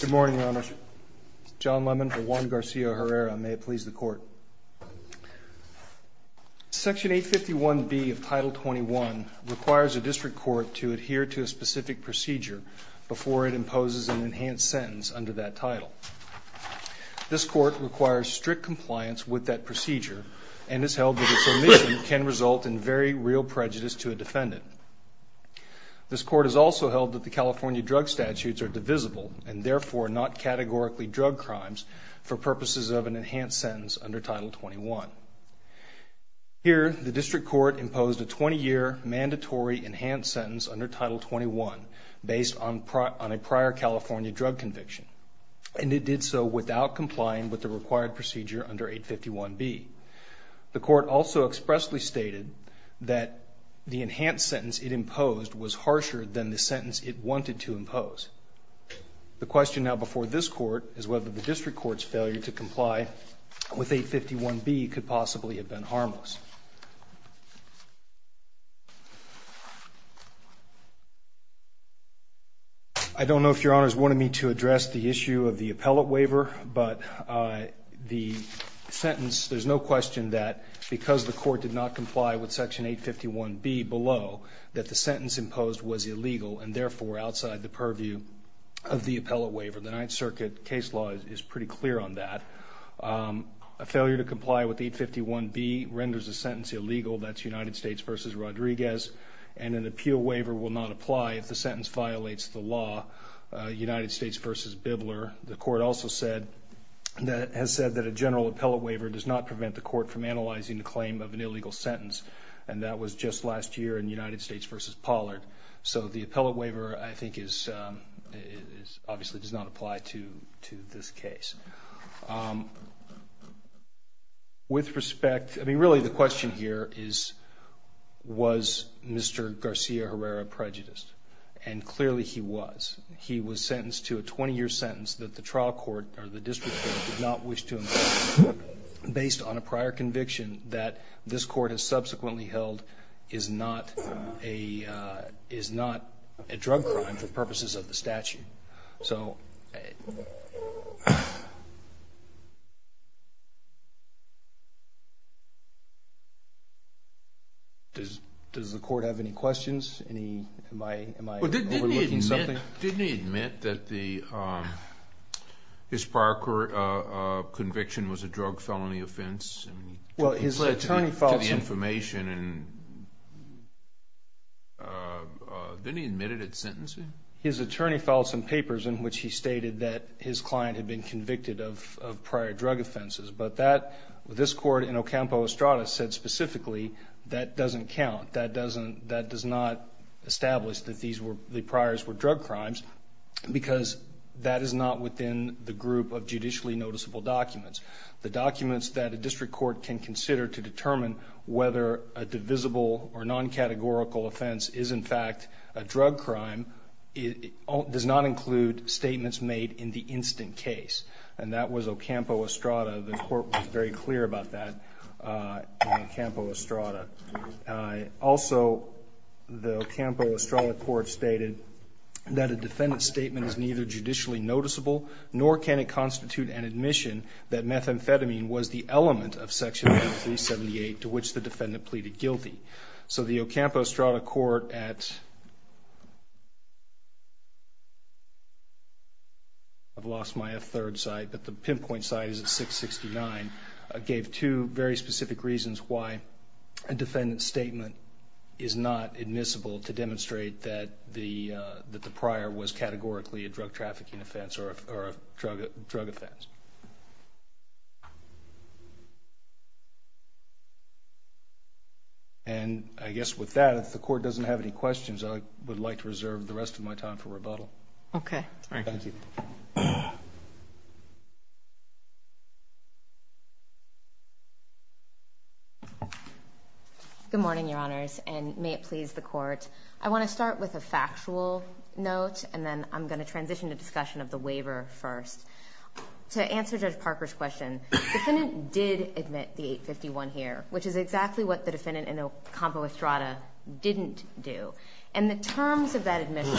Good morning, Your Honors. John Lemon for Juan Garcia Herrera. May it please the Court. Section 851B of Title 21 requires a district court to adhere to a specific procedure before it imposes an enhanced sentence under that title. This court requires strict compliance with that procedure and has held that its omission can result in very real prejudice to a defendant. This court has also held that the California drug statutes are divisible and therefore not categorically drug crimes for purposes of an enhanced sentence under Title 21. Here, the district court imposed a 20-year mandatory enhanced sentence under Title 21 based on a prior California drug conviction, and it did so without complying with the required procedure under 851B. The court also expressly stated that the enhanced sentence it imposed was harsher than the sentence it wanted to impose. The question now before this court is whether the district court's failure to comply with 851B could possibly have been harmless. I don't know if Your Honors wanted me to address the issue of the sentence. There's no question that because the court did not comply with Section 851B below that the sentence imposed was illegal and therefore outside the purview of the appellate waiver. The Ninth Circuit case law is pretty clear on that. A failure to comply with 851B renders a sentence illegal. That's United States v. Rodriguez, and an appeal waiver will not apply if the sentence violates the law, United States v. Bibler. The court also has said that a general appellate waiver does not prevent the court from analyzing the claim of an illegal sentence, and that was just last year in United States v. Pollard. So the appellate waiver, I think, obviously does not apply to this case. With respect, really the question here is, was Mr. Garcia Herrera prejudiced? And clearly he was. He was sentenced to a 20-year sentence that the trial court or the district court did not wish to impose based on a prior conviction that this court has subsequently held is not a drug crime for purposes of the statute. So does the court have any questions? Am I overlooking something? Didn't he admit that his prior conviction was a drug felony offense? He said to the information and didn't he admit it at sentencing? His attorney filed some papers in which he stated that his client had been convicted of prior drug offenses, but this court in Ocampo Estrada said specifically that doesn't count. That does not establish that the priors were drug crimes because that is not within the group of judicially noticeable documents. The documents that a district court can consider to determine whether a divisible or non-categorical offense is, in fact, a drug crime does not include statements made in the instant case, and that was Ocampo Estrada. The court was very clear about that in Ocampo Estrada. Also, the Ocampo Estrada court stated that a defendant's statement is neither judicially noticeable nor can it constitute an admission that methamphetamine was the element of Section 1378 to which the defendant pleaded guilty. So the Ocampo Estrada court at, I've lost my third side, but the pinpoint side is at 669, gave two very specific reasons why a defendant's statement is not admissible to demonstrate that the prior was categorically a drug trafficking offense or a drug offense. And I guess with that, if the court doesn't have any questions, I would like to reserve the rest of my time for rebuttal. Okay. Thank you. Good morning, Your Honors, and may it please the court. I want to start with a factual note, and then I'm going to transition to discussion of the waiver first. To answer Judge Parker's question, the defendant did admit the 851 here, which is exactly what the defendant in Ocampo Estrada didn't do. And the terms of that admission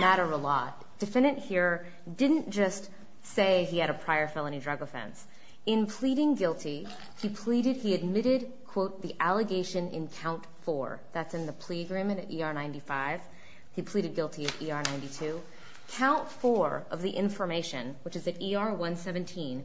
matter a lot. The defendant here didn't just say he had a prior felony drug offense. In pleading guilty, he pleaded, he admitted, quote, the allegation in count four. That's in the plea agreement at ER 95. He pleaded guilty at ER 92. Count four of the information, which is at ER 117,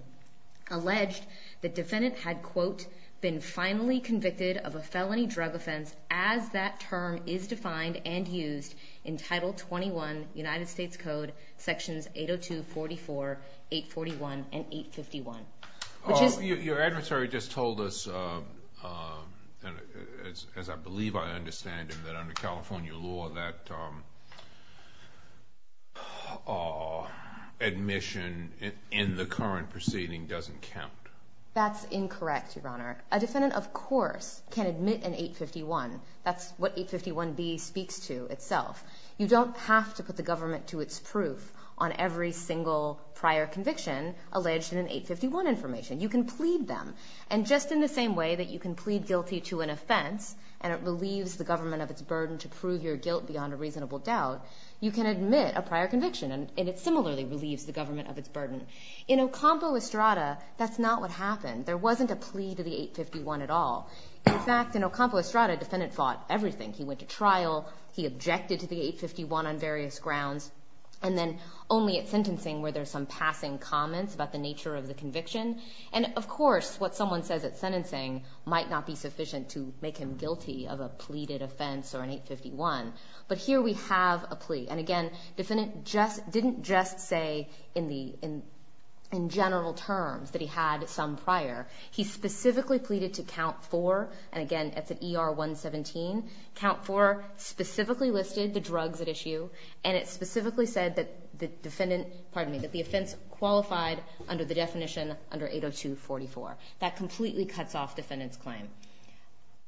alleged the defendant had, quote, been finally convicted of a felony drug offense as that term is defined and used in Title 21, United States Code, Sections 802, 44, 841, and 851. Your adversary just told us, as I believe I understand him, that under California law, that admission in the current proceeding doesn't count. That's incorrect, Your Honor. A defendant, of course, can admit an 851. That's what 851B speaks to itself. You don't have to put the government to its proof on every single prior conviction alleged in an 851 information. You can plead them. And just in the same way that you can plead guilty to an offense and it relieves the government of its burden to prove your guilt beyond a reasonable doubt, you can admit a prior conviction and it similarly relieves the government of its burden. In Ocampo Estrada, that's not what happened. There wasn't a plea to the 851 at all. In fact, in Ocampo Estrada, defendant fought everything. He went to trial. He objected to the 851 on various grounds. And then only at sentencing where there's some passing comments about the nature of the conviction. And of course, what someone says at sentencing might not be sufficient to make him guilty of a pleaded offense or an 851. But here we have a plea. And again, defendant didn't just say in general terms that he had some prior. He specifically pleaded to count four. And again, it's an ER 117. Count four specifically listed the drugs at the time of the conviction under 802-44. That completely cuts off defendant's claim.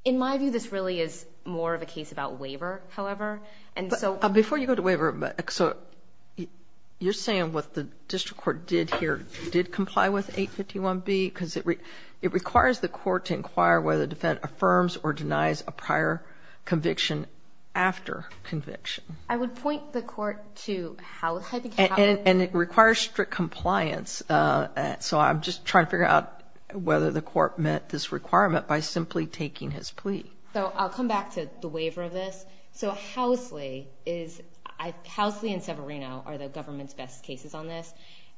In my view, this really is more of a case about waiver, however. And so before you go to waiver, so you're saying what the district court did here did comply with 851B because it requires the court to inquire whether the defendant affirms or denies a prior conviction after conviction. I would point the court to how. And it requires strict compliance. So I'm just trying to figure out whether the court met this requirement by simply taking his plea. So I'll come back to the waiver of this. So Housley and Severino are the government's best cases on this.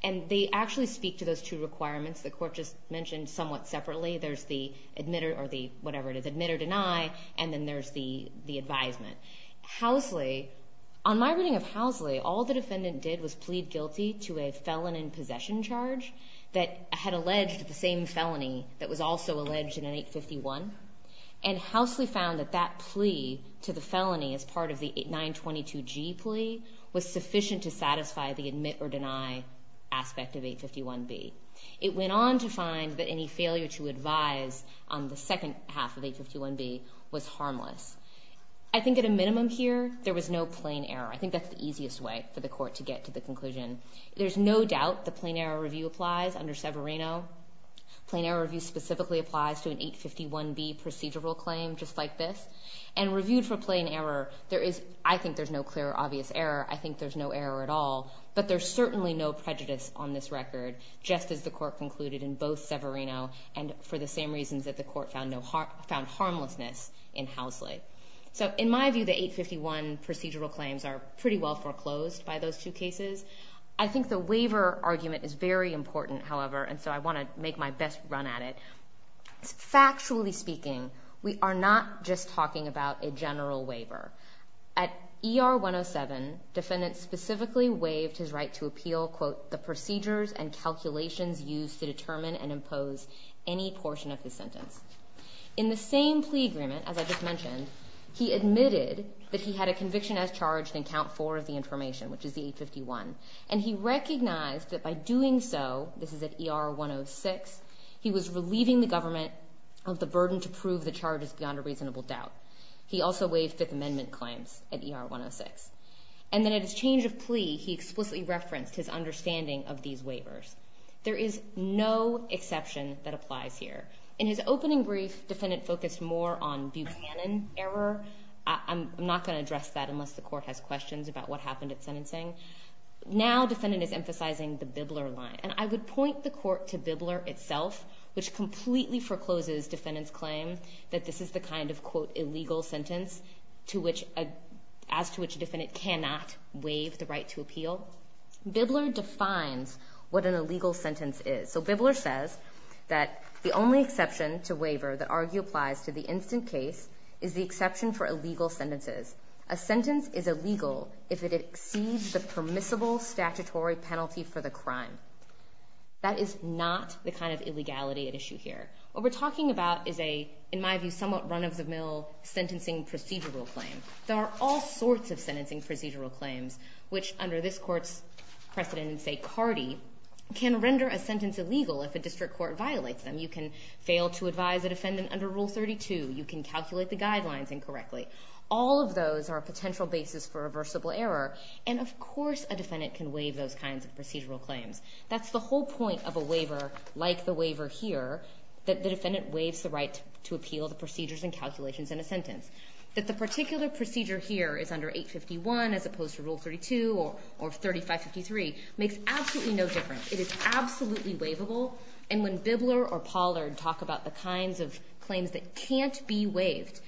And they actually speak to those two requirements the court just mentioned somewhat separately. There's the admit or deny, and then there's the advisement. Housley, on my reading of Housley, all the defendant did was plead guilty to a felon in possession charge that had alleged the same felony that was also alleged in an 851. And Housley found that that plea to the felony as part of the 922G plea was sufficient to satisfy the admit or deny aspect of 851B. It went on to find that any failure to advise on the second half of 851B was harmless. I think at a minimum here, there was no plain error. I think that's the easiest way for the court to get to the conclusion. There's no doubt the plain error review applies under Severino. Plain error review specifically applies to an 851B procedural claim just like this. And reviewed for plain error, I think there's no clear obvious error. I think there's no error at all. But there's certainly no prejudice on this record, just as the court concluded in both Severino and for the same reasons that the court found harmlessness in Housley. So in my view, the 851 procedural claims are pretty well foreclosed by those two cases. I think the waiver argument is very important, however, and so I want to make my best run at it. Factually speaking, we are not just talking about a general waiver. At ER 107, defendants specifically waived his right to appeal, quote, the procedures and calculations used to determine and impose any portion of his sentence. In the same plea agreement, as I just mentioned, he admitted that he had a conviction as charged in count four of the information, which is the 851. And he recognized that by doing so, this is at ER 106, he was relieving the government of the burden to prove the charges beyond a reasonable doubt. He also waived Fifth Amendment claims at ER 106. And then at his change of plea, he explicitly referenced his understanding of these waivers. There is no exception that applies here. In his opening brief, defendant focused more on Buchanan error. I'm not going to address that unless the court has questions about what happened at sentencing. Now defendant is emphasizing the Bibler line. And I would point the court to Bibler itself, which completely forecloses defendant's claim that this is the kind of, quote, illegal sentence as to which a defendant cannot waive the right to appeal. Bibler defines what an illegal sentence is. So Bibler says that the only exception to waiver that argue applies to the instant case is the exception for illegal sentences. A sentence is illegal if it exceeds the permissible statutory penalty for the crime. That is not the kind of illegality at issue here. What we're talking about is a, in my view, somewhat run-of-the-mill sentencing procedural claim. There are all sorts of sentencing procedural claims, which under this court's precedent in, say, Cardi, can render a sentence illegal if a district court violates them. You can fail to advise a defendant under Rule 32. You can calculate the guidelines incorrectly. All of those are a potential basis for reversible error. And of course a defendant can waive those kinds of procedural claims. That's the whole point of a waiver like the waiver here, that the defendant waives the right to appeal the procedures and calculations in a sentence. That the particular procedure here is under 851 as opposed to Rule 32 or 3553 makes absolutely no difference. It is absolutely waivable. And when Bibler or Pollard talk about the kinds of claims that can't be waived,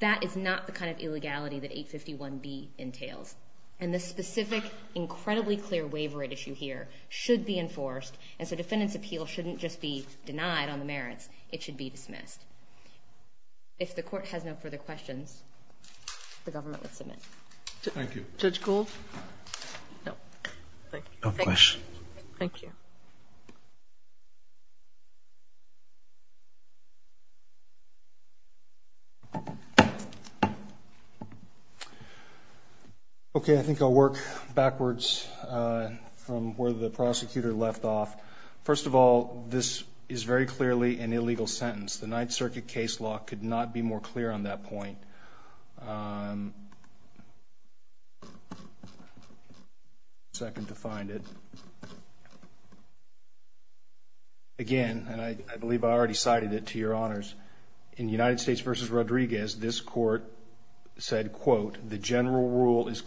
that is not the kind of illegality that 851B entails. And the specific, incredibly clear waiver at issue here should be enforced. And so defendant's appeal shouldn't just be denied on the merits. It should be dismissed. If the court has no further questions, the government would submit. Thank you. Judge Gould? No. Thank you. No questions. Okay. I think I'll work backwards from where the prosecutor left off. First of all, this is very clearly an illegal sentence. The Ninth Circuit case law could not be more clear on that point. I'll give you a second to find it. Again, and I believe I already cited it to your honors, in United States v. Rodriguez, this court said, quote, the general rule is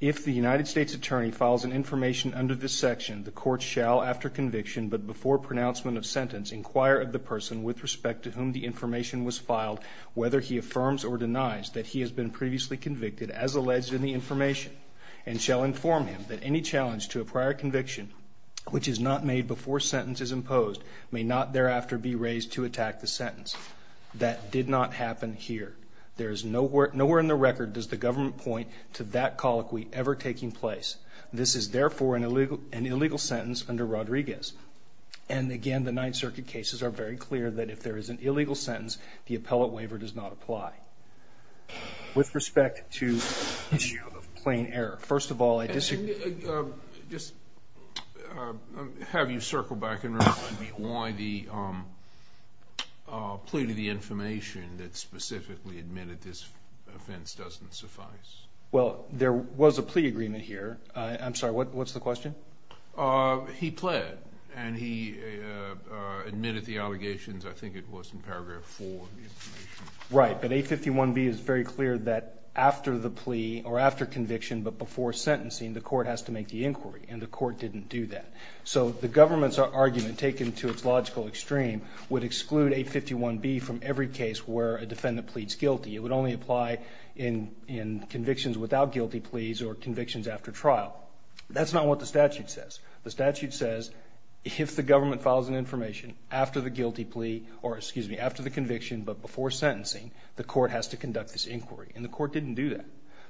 If the United States attorney files an information under this section, the court shall, after conviction but before pronouncement of sentence, inquire of the person with respect to whom the information was filed, whether he affirms or denies that he has been previously convicted, as alleged in the information, and shall inform him that any challenge to a prior conviction, which is not made before sentence is imposed, may not thereafter be raised to attack the There is nowhere in the record does the government point to that colloquy ever taking place. This is, therefore, an illegal sentence under Rodriguez. And again, the Ninth Circuit cases are very clear that if there is an illegal sentence, the appellate waiver does not apply. With respect to plain error, first of all, I disagree. Just have you circle back and remind me why the plea to the information that specifically admitted this offense doesn't suffice. Well, there was a plea agreement here. I'm sorry, what's the question? He pled, and he admitted the allegations, I think it was in paragraph 4 of the information. Right, but A51B is very clear that after the plea, or after conviction but before sentencing, the court has to make the inquiry, and the court didn't do that. So the government's argument, taken to its logical extreme, would exclude A51B from every case where a defendant pleads guilty. It would only apply in convictions without guilty pleas or convictions after trial. That's not what the statute says. The statute says if the government files an information after the guilty plea, or excuse me, after the conviction but before sentencing, the court has to conduct this inquiry, and the court didn't do that.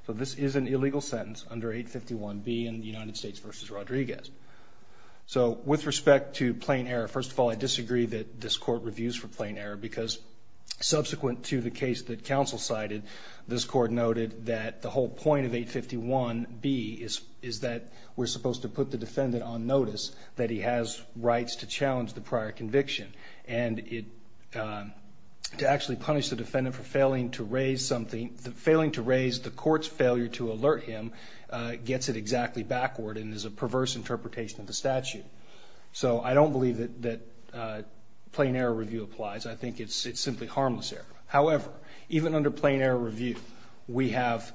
So this is an illegal sentence under A51B in the United States v. Rodriguez. So with respect to plain error, first of all, I disagree that this court reviews for plain error because subsequent to the case that counsel cited, this court noted that the whole point of A51B is that we're supposed to put the defendant on notice that he has rights to challenge the prior conviction, and to actually punish the defendant for failing to raise the court's failure to alert him gets it exactly backward and is a perverse interpretation of the statute. So I don't believe that plain error review applies. I think it's simply harmless error. However, even under plain error review, we have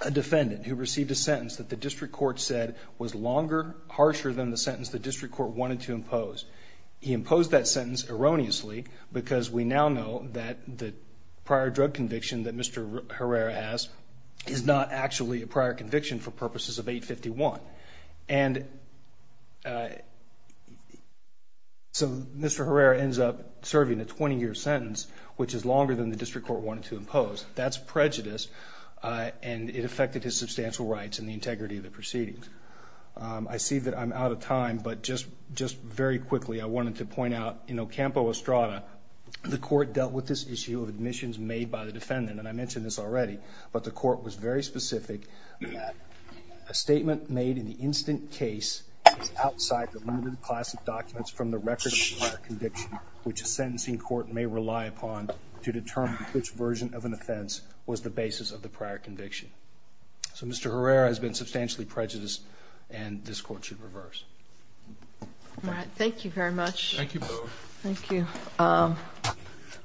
a defendant who received a sentence that the district court said was longer, harsher than the sentence the district court wanted to impose. He imposed that sentence erroneously because we now know that the prior drug conviction that Mr. Herrera has is not actually a prior conviction for purposes of A51. And so Mr. Herrera ends up serving a 20-year sentence, which is longer than the district court wanted to impose. That's prejudice, and it affected his substantial rights and the integrity of the proceedings. I see that I'm out of time, but just very quickly, I wanted to point out in Ocampo-Estrada, the court dealt with this issue of admissions made by the defendant, and I mentioned this already, but the court was very specific that a statement made in the instant case is outside the limited class of documents from the record of the prior conviction, which a sentencing court may rely upon to determine which version of an offense was the basis of the prior conviction. So Mr. Herrera has been substantially prejudiced, and this court should reverse. Thank you very much. Thank you both.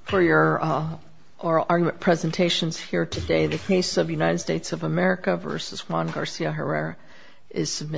For your oral argument presentations here today, the case of United States of America v. Juan Garcia Herrera is submitted.